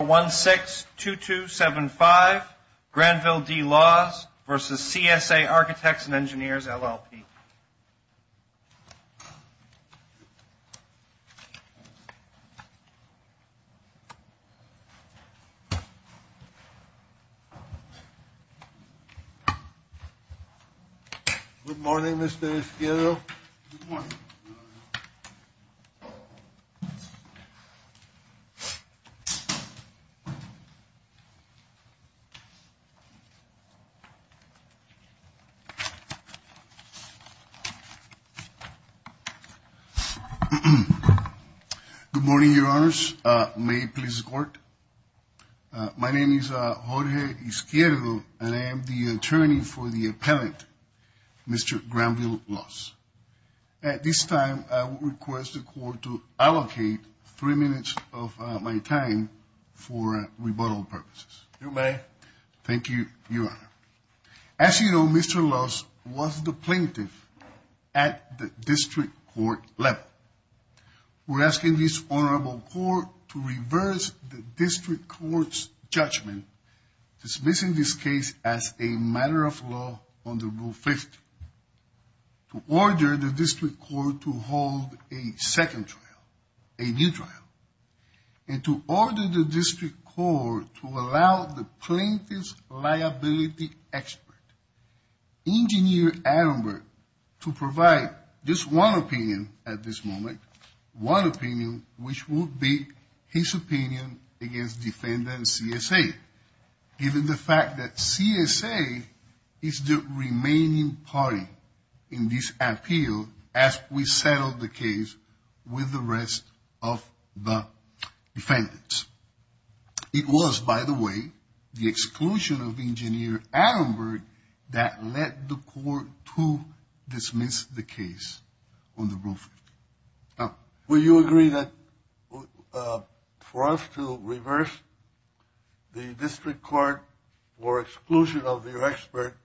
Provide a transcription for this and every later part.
162275 Granville D. Laws v. CSA Architects and Engineers, LLP. Good morning, Mr. Esquivel. Good morning. Good morning, Your Honors. May it please the Court. My name is Jorge Izquierdo, and I am the attorney for the appellant, Mr. Granville Laws. At this time, I would request the Court to allocate three minutes of my time for rebuttal purposes. You may. Thank you, Your Honor. As you know, Mr. Laws was the plaintiff at the district court level. We're asking this Honorable Court to reverse the district court's judgment, dismissing this case as a matter of law under Rule 50. To order the district court to hold a second trial, a new trial. And to order the district court to allow the plaintiff's liability expert, Engineer Attenborough, to provide just one opinion at this moment, one opinion which would be his opinion against defendant CSA, given the fact that CSA is the remaining party in this appeal as we settle the case with the rest of the defendants. It was, by the way, the exclusion of Engineer Attenborough that led the Court to dismiss the case under Rule 50. Will you agree that for us to reverse the district court or exclusion of your expert,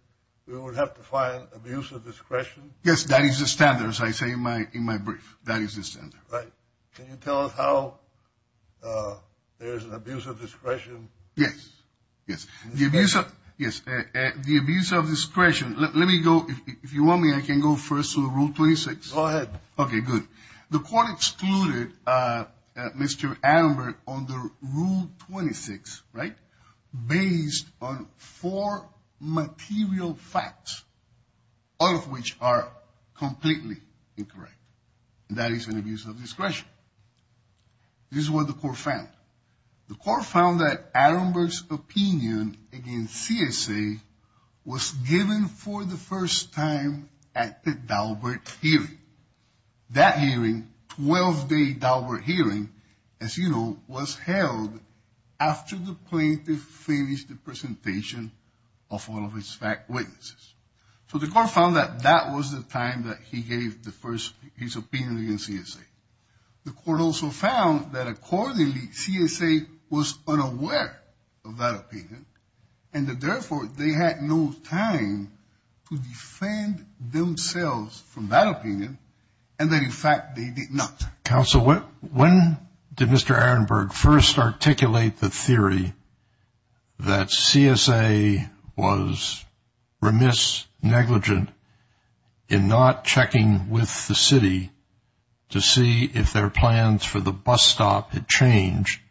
we would have to find abuse of discretion? Yes, that is the standard, as I say in my brief. That is the standard. Right. Can you tell us how there is an abuse of discretion? Yes. Yes. The abuse of discretion. Let me go. If you want me, I can go first to Rule 26. Go ahead. Okay, good. The Court excluded Mr. Attenborough under Rule 26, right, based on four material facts, all of which are completely incorrect. That is an abuse of discretion. This is what the Court found. The Court found that Attenborough's opinion against CSA was given for the first time at the Daubert hearing. That hearing, 12-day Daubert hearing, as you know, was held after the plaintiff finished the presentation of all of his witnesses. So the Court found that that was the time that he gave the first, his opinion against CSA. The Court also found that, accordingly, CSA was unaware of that opinion and that, therefore, they had no time to defend themselves from that opinion and that, in fact, they did not. Counsel, when did Mr. Attenborough first articulate the theory that CSA was remiss, negligent, in not checking with the city to see if their plans for the bus stop had changed,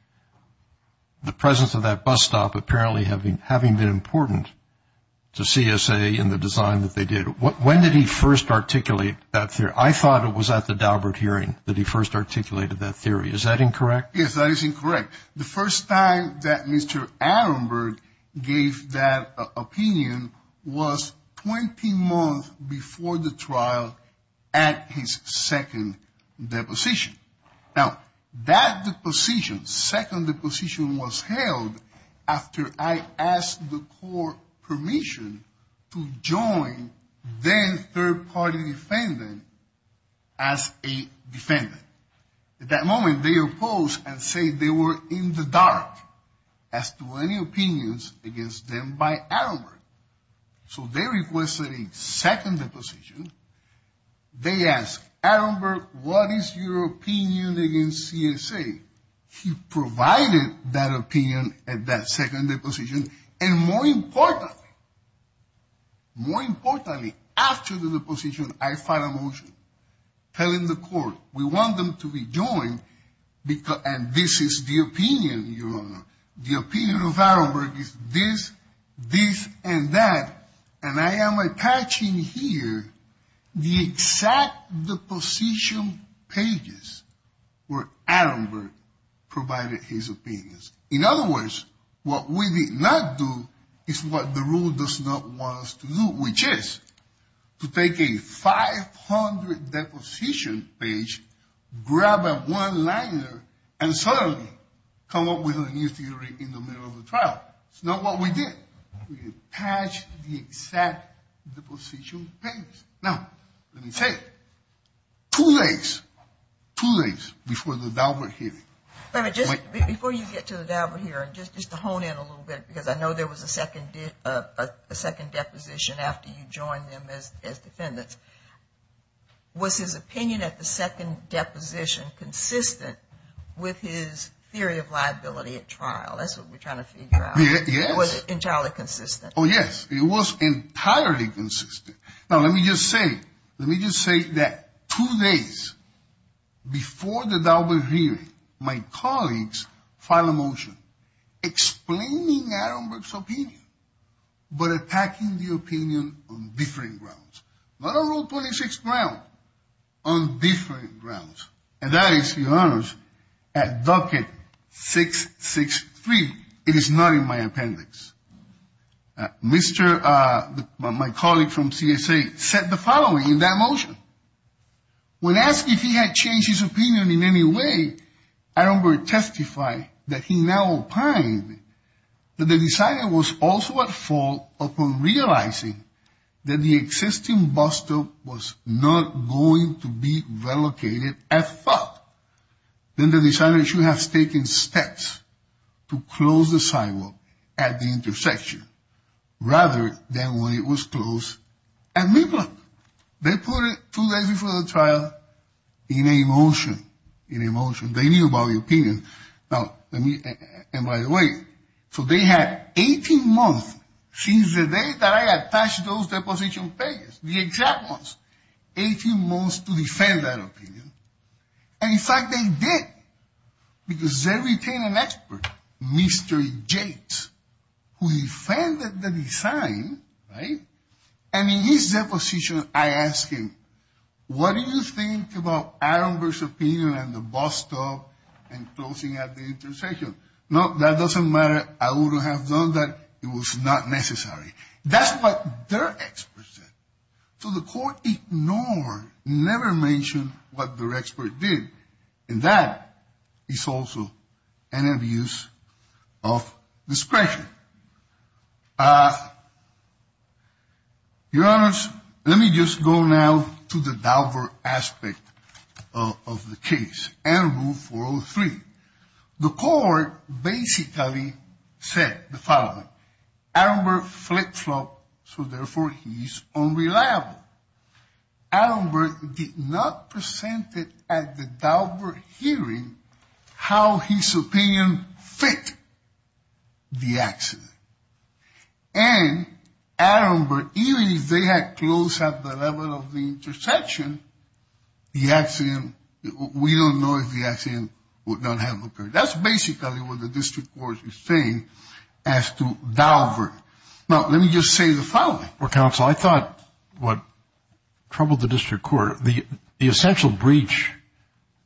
the presence of that bus stop apparently having been important to CSA in the design that they did? When did he first articulate that theory? I thought it was at the Daubert hearing that he first articulated that theory. Is that incorrect? Yes, that is incorrect. The first time that Mr. Attenborough gave that opinion was 20 months before the trial at his second deposition. Now, that deposition, second deposition was held after I asked the Court permission to join then third-party defendant as a defendant. At that moment, they opposed and said they were in the dark as to any opinions against them by Attenborough. So they requested a second deposition. They asked Attenborough, what is your opinion against CSA? He provided that opinion at that second deposition, and more importantly, more importantly, after the deposition, I filed a motion telling the Court we want them to be joined, and this is the opinion, Your Honor. The opinion of Attenborough is this, this, and that, and I am attaching here the exact deposition pages where Attenborough provided his opinions. In other words, what we did not do is what the rule does not want us to do, which is to take a 500-deposition page, grab a one-liner, and suddenly come up with a new theory in the middle of the trial. It's not what we did. We attached the exact deposition pages. Now, let me say, two days, two days before the Daubert hearing. Before you get to the Daubert hearing, just to hone in a little bit, because I know there was a second deposition after you joined them as defendants, was his opinion at the second deposition consistent with his theory of liability at trial? That's what we're trying to figure out. Yes. Was it entirely consistent? Oh, yes. It was entirely consistent. Now, let me just say, let me just say that two days before the Daubert hearing, my colleagues filed a motion explaining Attenborough's opinion, but attacking the opinion on different grounds. Not on Rule 26 grounds, on different grounds, and that is, Your Honors, at Docket 663. It is not in my appendix. Mr. My colleague from CSA said the following in that motion. When asked if he had changed his opinion in any way, Attenborough testified that he now opined that the decider was also at fault upon realizing that the existing bus stop was not going to be relocated at thought. Then the decider should have taken steps to close the sidewalk at the intersection rather than when it was closed at mid-block. They put it two days before the trial in a motion, in a motion. They knew about the opinion. Now, let me, and by the way, so they had 18 months since the day that I attached those deposition pages, the exact ones, 18 months to defend that opinion. And in fact, they did, because they retained an expert, Mr. Yates, who defended the design, right? And in his deposition, I asked him, what do you think about Attenborough's opinion on the bus stop and closing at the intersection? No, that doesn't matter. I would have done that. It was not necessary. That's what their experts said. So the court ignored, never mentioned what their expert did. And that is also an abuse of discretion. Your Honors, let me just go now to the Dauber aspect of the case and Rule 403. The court basically said the following. Attenborough flip-flopped, so therefore he's unreliable. Attenborough did not present it at the Dauber hearing how his opinion fit the accident. And Attenborough, even if they had closed at the level of the intersection, the accident, we don't know if the accident would not have occurred. That's basically what the district court is saying as to Dauber. Now, let me just say the following. Well, counsel, I thought what troubled the district court, the essential breach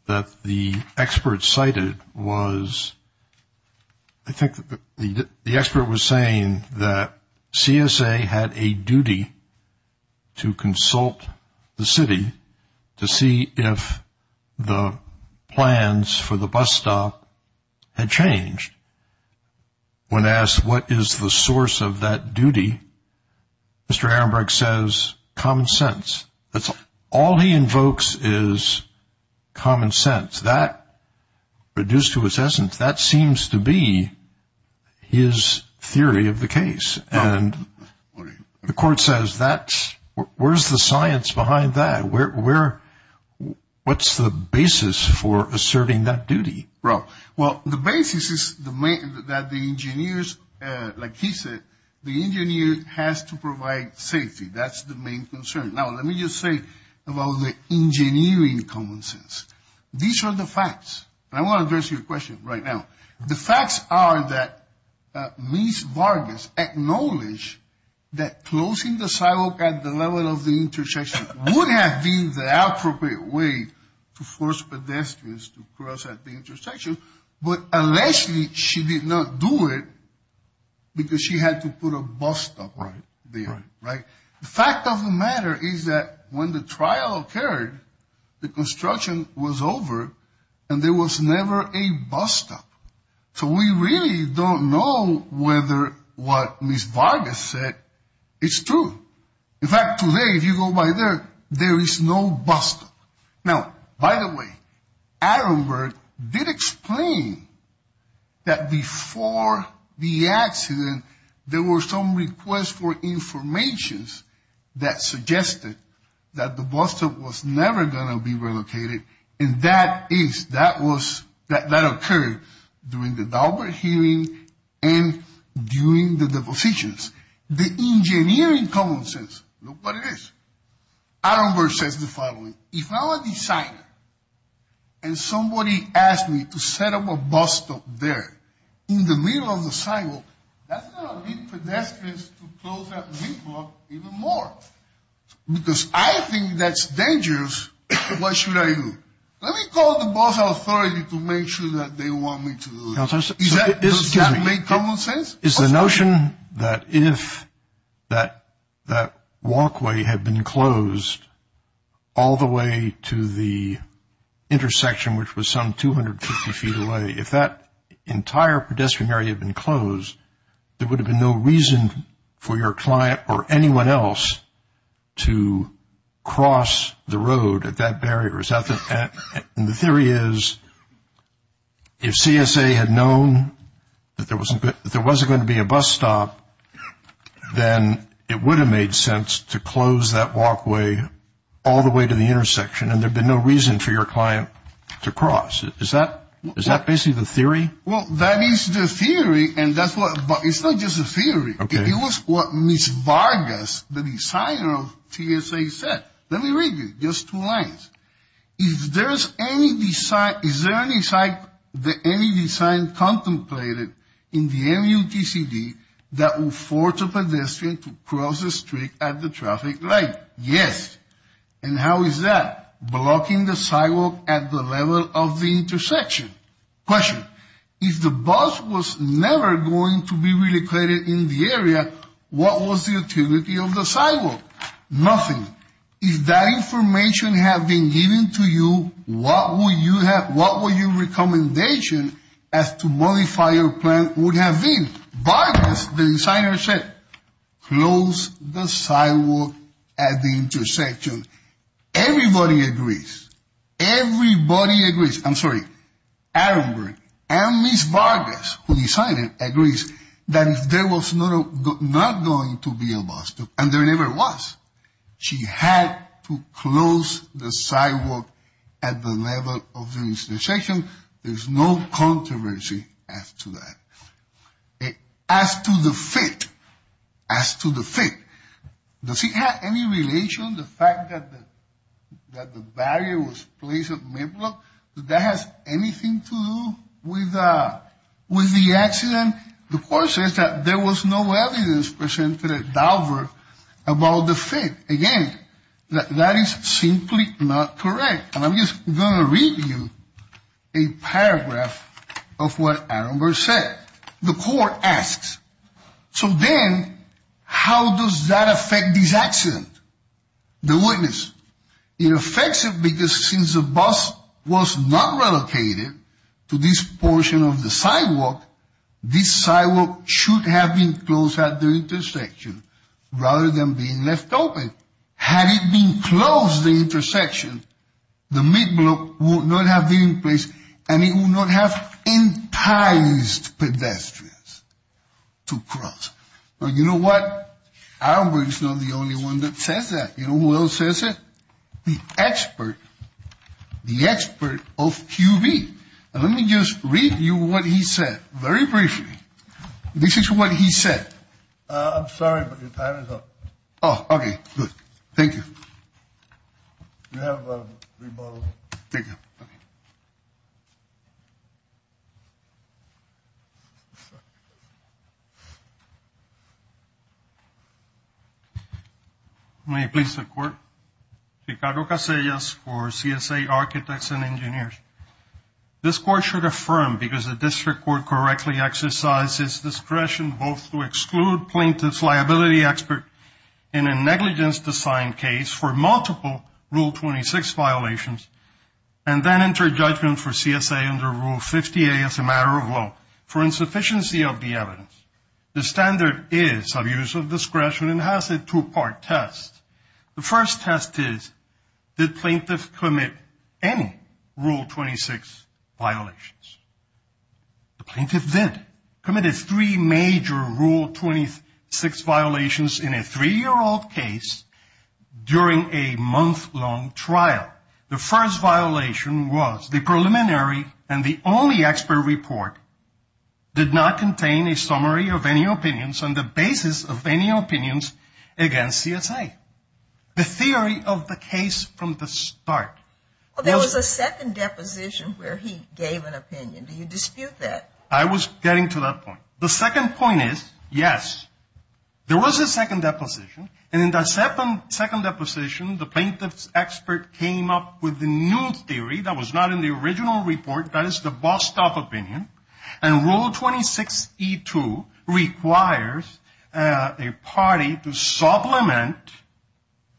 that the expert cited was I think the expert was saying that CSA had a duty to consult the city to see if the plans for the bus stop had changed. When asked what is the source of that duty, Mr. Ahrenberg says common sense. That's all he invokes is common sense. That, reduced to its essence, that seems to be his theory of the case. And the court says that's – where's the science behind that? Well, the basis is that the engineers, like he said, the engineer has to provide safety. That's the main concern. Now, let me just say about the engineering common sense. These are the facts. And I want to address your question right now. The facts are that Ms. Vargas acknowledged that closing the sidewalk at the level of the intersection would have been the appropriate way to force pedestrians to cross at the intersection. But unless she did not do it, because she had to put a bus stop there, right? The fact of the matter is that when the trial occurred, the construction was over, and there was never a bus stop. So we really don't know whether what Ms. Vargas said is true. In fact, today, if you go by there, there is no bus stop. Now, by the way, Attenberg did explain that before the accident, there were some requests for information that suggested that the bus stop was never going to be relocated. And that is – that was – that occurred during the Daubert hearing and during the depositions. The engineering common sense, look what it is. Attenberg says the following. If I'm a designer and somebody asks me to set up a bus stop there in the middle of the sidewalk, that's going to lead pedestrians to close that sidewalk even more. Because I think that's dangerous, what should I do? Let me call the bus authority to make sure that they want me to do it. Does that make common sense? Is the notion that if that walkway had been closed all the way to the intersection, which was some 250 feet away, if that entire pedestrian area had been closed, there would have been no reason for your client or anyone else to cross the road at that barrier. And the theory is if CSA had known that there wasn't going to be a bus stop, then it would have made sense to close that walkway all the way to the intersection and there would have been no reason for your client to cross. Is that basically the theory? Well, that is the theory, but it's not just a theory. It was what Ms. Vargas, the designer of CSA, said. Let me read you just two lines. Is there any design contemplated in the MUTCD that will force a pedestrian to cross the street at the traffic light? Yes. And how is that? Blocking the sidewalk at the level of the intersection. Question. If the bus was never going to be relocated in the area, what was the utility of the sidewalk? Nothing. If that information had been given to you, what would your recommendation as to modify your plan would have been? Vargas, the designer, said close the sidewalk at the intersection. Everybody agrees. Everybody agrees. I'm sorry. And Ms. Vargas, who designed it, agrees that if there was not going to be a bus, and there never was, she had to close the sidewalk at the level of the intersection. There's no controversy as to that. As to the fit, as to the fit, does it have any relation, the fact that the barrier was placed at mid-block? Does that have anything to do with the accident? The court says that there was no evidence presented at Daubert about the fit. Again, that is simply not correct. And I'm just going to read you a paragraph of what Aaron Burr said. The court asks, so then how does that affect this accident? The witness. It affects it because since the bus was not relocated to this portion of the sidewalk, this sidewalk should have been closed at the intersection rather than being left open. Had it been closed at the intersection, the mid-block would not have been in place, and it would not have enticed pedestrians to cross. But you know what? Aaron Burr is not the only one that says that. You know who else says it? The expert. The expert of QB. And let me just read you what he said very briefly. This is what he said. I'm sorry, but your time is up. Oh, okay. Good. Thank you. You have a rebuttal. Thank you. Okay. May I please have the court? Ricardo Casillas for CSA Architects and Engineers. This court should affirm because the district court correctly exercised its discretion both to exclude plaintiff's liability expert in a negligence design case for multiple Rule 26 violations, and then enter judgment for CSA under Rule 58 as a matter of law for insufficiency of the evidence. The standard is of use of discretion and has a two-part test. The first test is, did plaintiff commit any Rule 26 violations? The plaintiff did. The plaintiff committed three major Rule 26 violations in a three-year-old case during a month-long trial. The first violation was the preliminary and the only expert report did not contain a summary of any opinions on the basis of any opinions against CSA. The theory of the case from the start. There was a second deposition where he gave an opinion. Do you dispute that? I was getting to that point. The second point is, yes, there was a second deposition, and in that second deposition the plaintiff's expert came up with a new theory that was not in the original report. That is the bust-off opinion. And Rule 26E2 requires a party to supplement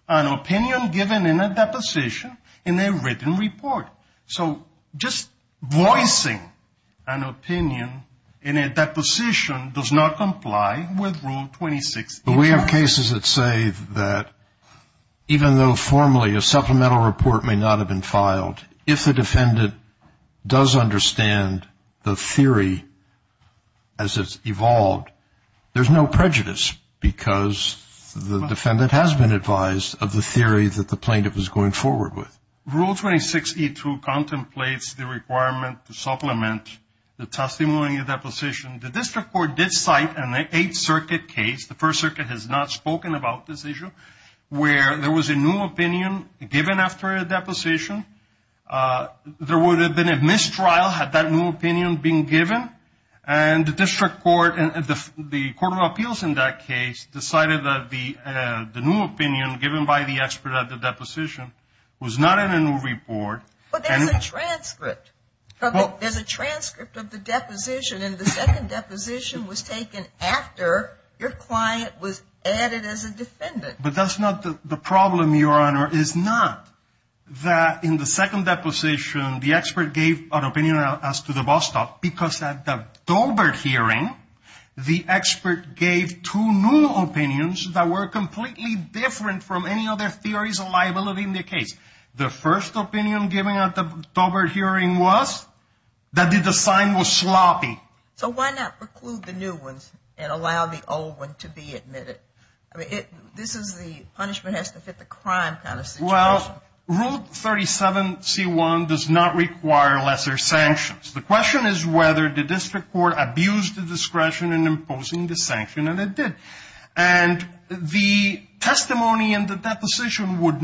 an opinion given in a deposition in a written report. So just voicing an opinion in a deposition does not comply with Rule 26E2. But we have cases that say that even though formally a supplemental report may not have been filed, if the defendant does understand the theory as it's evolved, there's no prejudice because the defendant has been advised of the theory that the plaintiff is going forward with. Rule 26E2 contemplates the requirement to supplement the testimony in a deposition. The district court did cite an Eighth Circuit case. The First Circuit has not spoken about this issue, where there was a new opinion given after a deposition. There would have been a mistrial had that new opinion been given, and the district court and the Court of Appeals in that case decided that the new opinion given by the expert at the deposition was not in a new report. But there's a transcript. There's a transcript of the deposition, and the second deposition was taken after your client was added as a defendant. But that's not the problem, Your Honor, is not that in the second deposition the expert gave an opinion as to the bust-off because at the Dobert hearing the expert gave two new opinions that were completely different from any other theories of liability in the case. The first opinion given at the Dobert hearing was that the design was sloppy. So why not preclude the new ones and allow the old one to be admitted? I mean, this is the punishment-has-to-fit-the-crime kind of situation. Well, Rule 37C1 does not require lesser sanctions. The question is whether the district court abused the discretion in imposing the sanction, and it did. And the testimony in the deposition would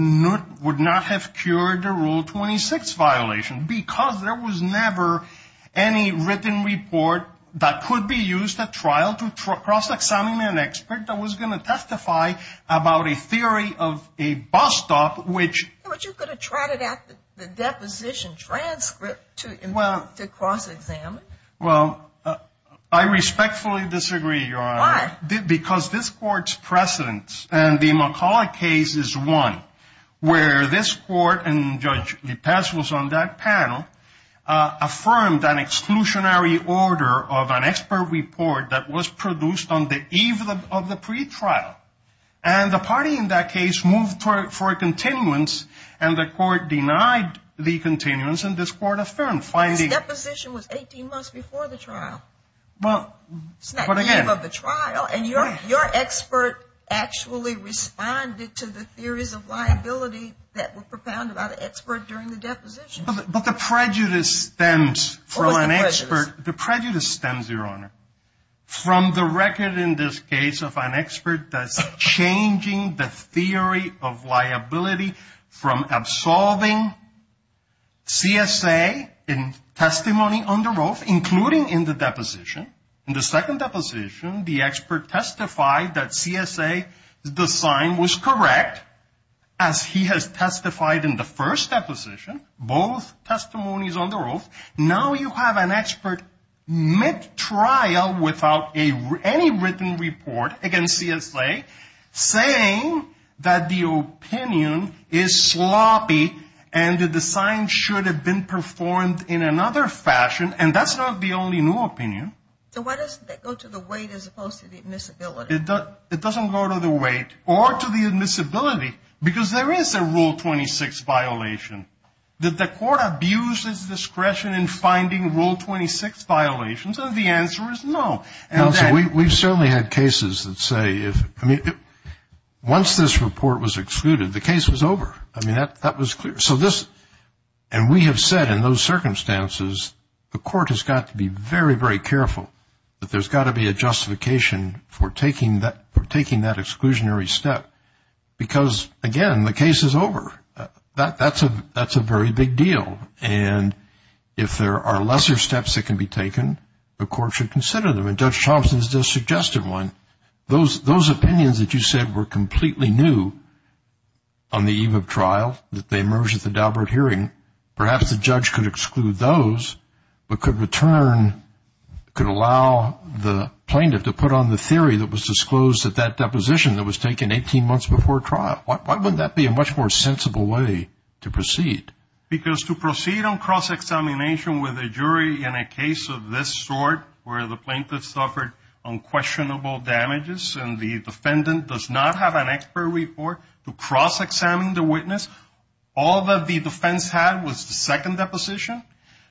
not have cured the Rule 26 violation because there was never any written report that could be used at trial to cross-examine an expert that was going to testify about a theory of a bust-off which- Well, I respectfully disagree, Your Honor. Why? Because this Court's precedence in the McCullough case is one where this Court, and Judge Vitesse was on that panel, affirmed an exclusionary order of an expert report that was produced on the eve of the pretrial. And the party in that case moved for a continuance, and the Court denied the continuance, and this Court affirmed finding- This deposition was 18 months before the trial. Well- It's not the eve of the trial, and your expert actually responded to the theories of liability that were propounded by the expert during the deposition. But the prejudice stems from an expert- What was the prejudice? The prejudice stems, Your Honor, from the record in this case of an expert that's changing the theory of liability from absolving CSA in testimony on the roof, including in the deposition. In the second deposition, the expert testified that CSA, the sign was correct, as he has testified in the first deposition, both testimonies on the roof. Now you have an expert mid-trial without any written report against CSA saying that the opinion is sloppy and that the sign should have been performed in another fashion, and that's not the only new opinion. So why does it go to the weight as opposed to the admissibility? It doesn't go to the weight or to the admissibility, because there is a Rule 26 violation. Did the court abuse its discretion in finding Rule 26 violations? The answer is no. Counsel, we've certainly had cases that say, I mean, once this report was excluded, the case was over. I mean, that was clear. So this, and we have said in those circumstances, the court has got to be very, very careful that there's got to be a justification for taking that exclusionary step, because, again, the case is over. That's a very big deal. And if there are lesser steps that can be taken, the court should consider them. And Judge Thompson has just suggested one. Those opinions that you said were completely new on the eve of trial, that they emerged at the Daubert hearing, perhaps the judge could exclude those but could return, could allow the plaintiff to put on the theory that was disclosed at that deposition that was taken 18 months before trial. Why would that be a much more sensible way to proceed? Because to proceed on cross-examination with a jury in a case of this sort, where the plaintiff suffered unquestionable damages and the defendant does not have an expert report, to cross-examine the witness, all that the defense had was the second deposition,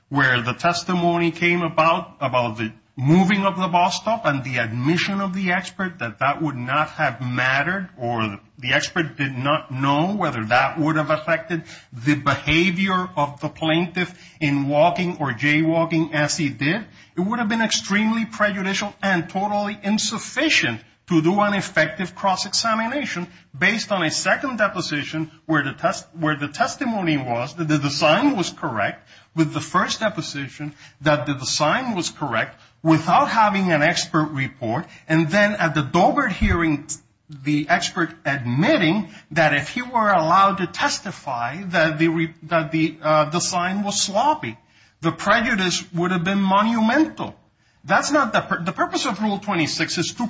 where the testimony came about, about the moving of the ball stop and the admission of the expert, that that would not have mattered or the expert did not know whether that would have affected the behavior of the plaintiff in walking or jaywalking as he did, it would have been extremely prejudicial and totally insufficient to do an effective cross-examination based on a second deposition where the testimony was that the design was correct with the first deposition that the design was correct without having an expert report. And then at the Dobert hearing, the expert admitting that if he were allowed to testify that the design was sloppy, the prejudice would have been monumental. The purpose of Rule 26 is to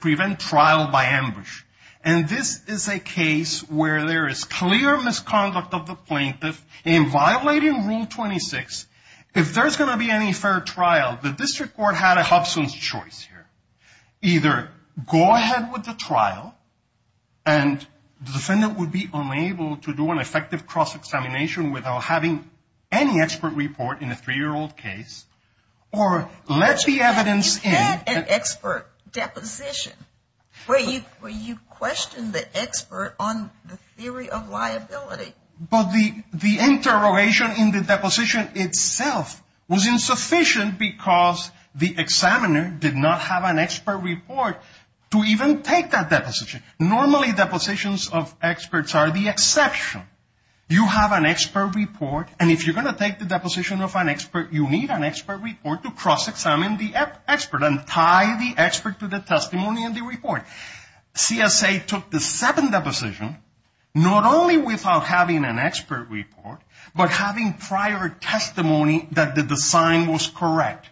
prevent trial by ambush. And this is a case where there is clear misconduct of the plaintiff in violating Rule 26. If there's going to be any fair trial, the district court had a Hobson's choice here. Either go ahead with the trial and the defendant would be unable to do an effective cross-examination without having any expert report in a three-year-old case or let the evidence in. You had an expert deposition where you questioned the expert on the theory of liability. But the interrogation in the deposition itself was insufficient because the examiner did not have an expert report to even take that deposition. Normally, depositions of experts are the exception. You have an expert report, and if you're going to take the deposition of an expert, you need an expert report to cross-examine the expert and tie the expert to the testimony in the report. CSA took the second deposition, not only without having an expert report, but having prior testimony that the design was correct.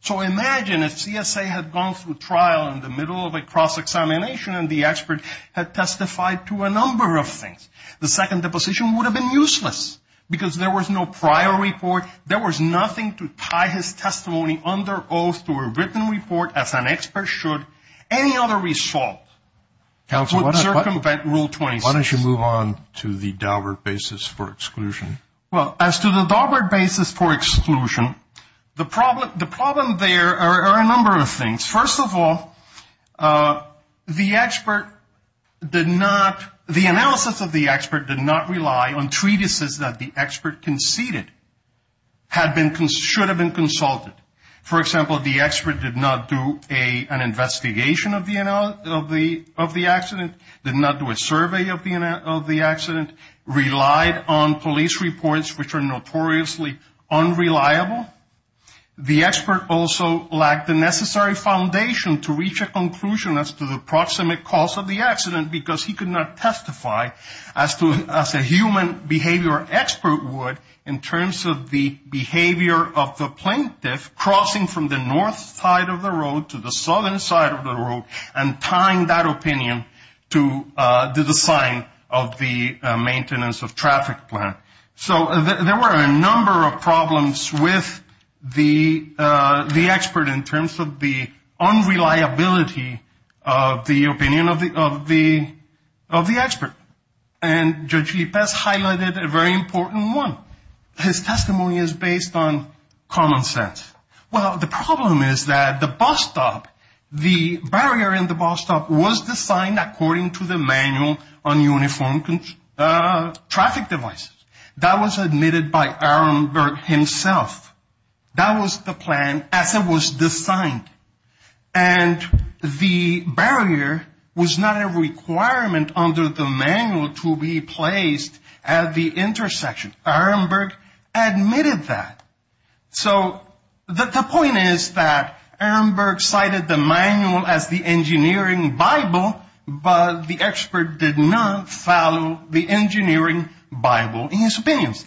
So imagine if CSA had gone through trial in the middle of a cross-examination and the expert had testified to a number of things. The second deposition would have been useless because there was no prior report. There was nothing to tie his testimony under oath to a written report as an expert should. Any other result would circumvent Rule 26. Why don't you move on to the Daubert basis for exclusion? Well, as to the Daubert basis for exclusion, the problem there are a number of things. First of all, the analysis of the expert did not rely on treatises that the expert conceded should have been consulted. For example, the expert did not do an investigation of the accident, did not do a survey of the accident, relied on police reports which are notoriously unreliable. The expert also lacked the necessary foundation to reach a conclusion as to the proximate cause of the accident because he could not testify as a human behavior expert would in terms of the behavior of the plaintiff crossing from the north side of the road to the southern side of the road and tying that opinion to the design of the maintenance of traffic plan. So there were a number of problems with the expert in terms of the unreliability of the opinion of the expert. And Judge Lippes highlighted a very important one. His testimony is based on common sense. Well, the problem is that the bus stop, the barrier in the bus stop was designed according to the manual on uniformed traffic devices. That was admitted by Aaron Berg himself. That was the plan as it was designed. And the barrier was not a requirement under the manual to be placed at the intersection. Aaron Berg admitted that. So the point is that Aaron Berg cited the manual as the engineering Bible, but the expert did not follow the engineering Bible in his opinions.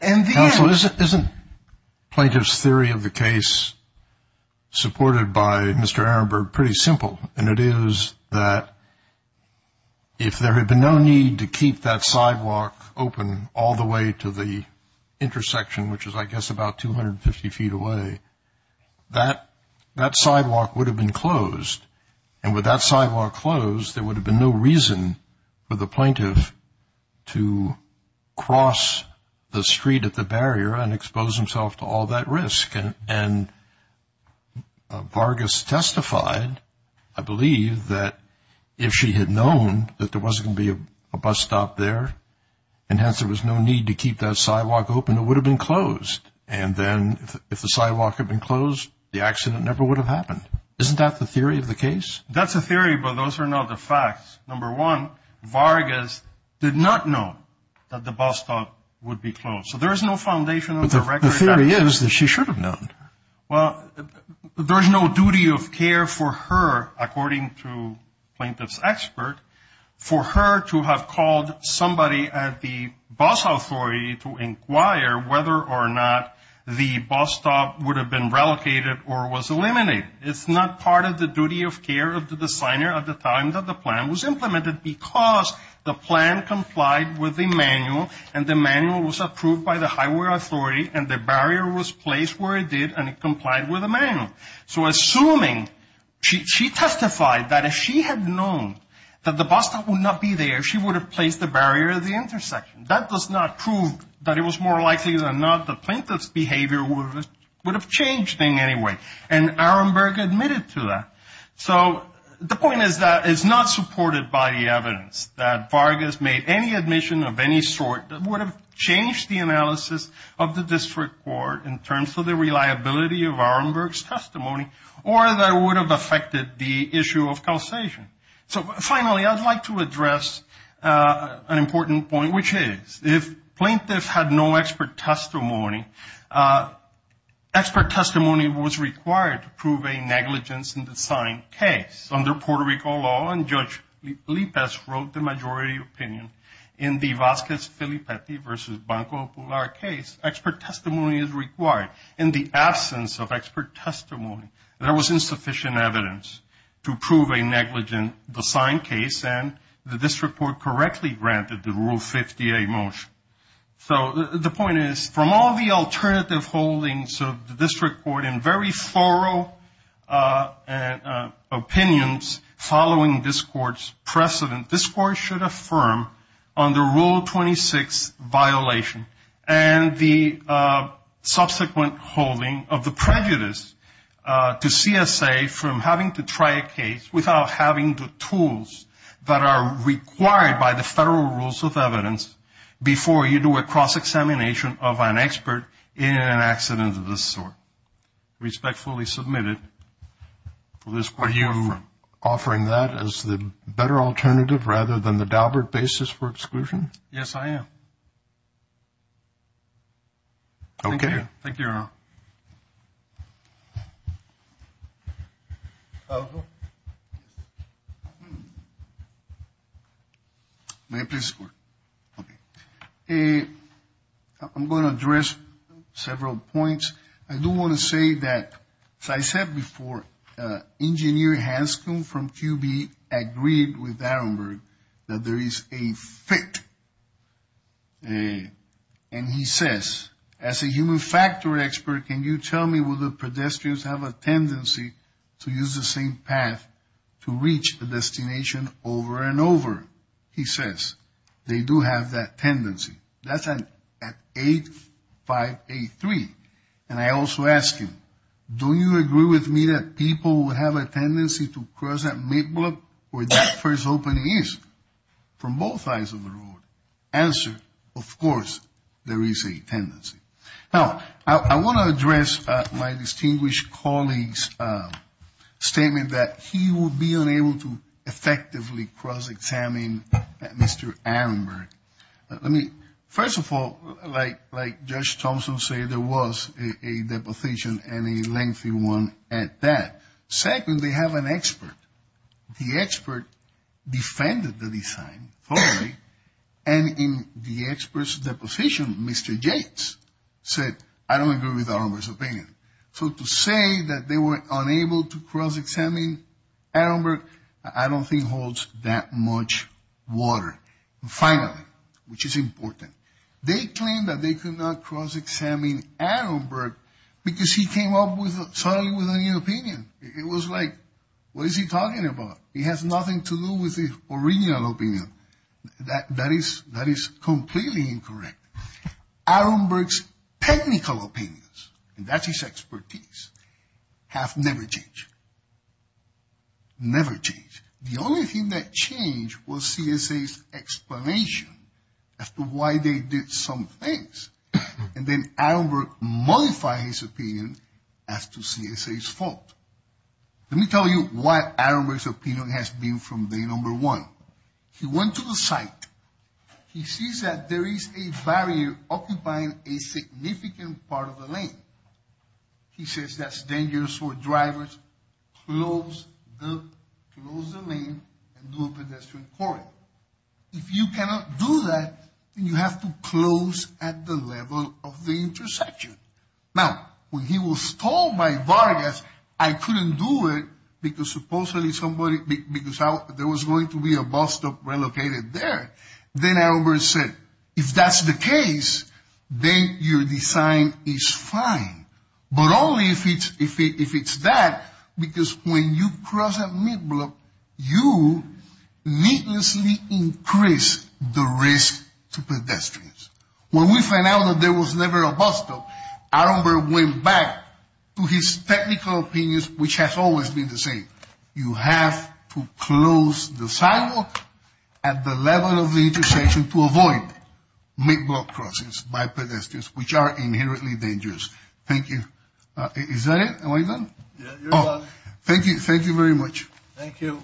Counsel, isn't plaintiff's theory of the case supported by Mr. Aaron Berg pretty simple? And it is that if there had been no need to keep that sidewalk open all the way to the intersection, which is I guess about 250 feet away, that sidewalk would have been closed. And with that sidewalk closed, there would have been no reason for the plaintiff to cross the street at the barrier and expose himself to all that risk. And Vargas testified, I believe, that if she had known that there wasn't going to be a bus stop there and hence there was no need to keep that sidewalk open, it would have been closed. And then if the sidewalk had been closed, the accident never would have happened. Isn't that the theory of the case? That's a theory, but those are not the facts. Number one, Vargas did not know that the bus stop would be closed. So there is no foundation of the record. But the theory is that she should have known. Well, there is no duty of care for her, according to plaintiff's expert, for her to have called somebody at the bus authority to inquire whether or not the bus stop would have been relocated or was eliminated. It's not part of the duty of care of the designer at the time that the plan was implemented because the plan complied with the manual and the manual was approved by the highway authority and the barrier was placed where it did and it complied with the manual. So assuming she testified that if she had known that the bus stop would not be there, she would have placed the barrier at the intersection. That does not prove that it was more likely than not the plaintiff's behavior would have changed in any way, and Aramberg admitted to that. So the point is that it's not supported by the evidence that Vargas made any admission of any sort that would have changed the analysis of the district court in terms of the reliability of Aramberg's testimony or that it would have affected the issue of calcification. So finally, I'd like to address an important point, which is if plaintiffs had no expert testimony, expert testimony was required to prove a negligence in the signed case. Under Puerto Rico law, and Judge Lippes wrote the majority opinion in the Vasquez-Filippetti versus Banco Pular case, expert testimony is required. In the absence of expert testimony, there was insufficient evidence to prove a negligence in the signed case, and the district court correctly granted the Rule 50A motion. So the point is from all the alternative holdings of the district court in very thorough opinions following this court's precedent, this court should affirm on the Rule 26 violation and the subsequent holding of the prejudice to CSA from having to try a case without having the tools that are required by the federal rules of evidence before you do a cross-examination of an expert in an accident of this sort. Respectfully submitted. For this court, you're offering that as the better alternative rather than the Daubert basis for exclusion? Yes, I am. Thank you, Your Honor. May I please speak? Okay. I'm going to address several points. I do want to say that, as I said before, Engineer Hanscom from QB agreed with Aronberg that there is a fit, and he says, as a human factor expert, can you tell me will the pedestrians have a tendency to use the same path to reach the destination over and over? He says they do have that tendency. That's at 8583. And I also ask him, do you agree with me that people would have a tendency to cross that mid-block where that first opening is from both sides of the road? Answer, of course there is a tendency. Now, I want to address my distinguished colleague's statement that he will be unable to effectively cross-examine Mr. Aronberg. First of all, like Judge Thompson said, there was a deposition and a lengthy one at that. Second, they have an expert. The expert defended the design thoroughly, and in the expert's deposition, Mr. Jates said, I don't agree with Aronberg's opinion. So to say that they were unable to cross-examine Aronberg, I don't think holds that much water. Finally, which is important, they claimed that they could not cross-examine Aronberg because he came up suddenly with a new opinion. It was like, what is he talking about? It has nothing to do with the original opinion. That is completely incorrect. Aronberg's technical opinions, and that's his expertise, have never changed. Never changed. The only thing that changed was CSA's explanation as to why they did some things, and then Aronberg modified his opinion as to CSA's fault. Let me tell you why Aronberg's opinion has been from day number one. He went to the site. He sees that there is a barrier occupying a significant part of the lane. He says that's dangerous for drivers. Close the lane and do a pedestrian cord. If you cannot do that, then you have to close at the level of the intersection. Now, when he was told by Vargas, I couldn't do it because supposedly somebody, because there was going to be a bus stop relocated there, then Aronberg said, if that's the case, then your design is fine. But only if it's that, because when you cross a mid-block, you needlessly increase the risk to pedestrians. When we found out that there was never a bus stop, Aronberg went back to his technical opinions, which has always been the same. You have to close the sidewalk at the level of the intersection to avoid mid-block crossings by pedestrians, which are inherently dangerous. Thank you. Is that it? Am I done? Yeah, you're done. Thank you. Thank you very much. Thank you.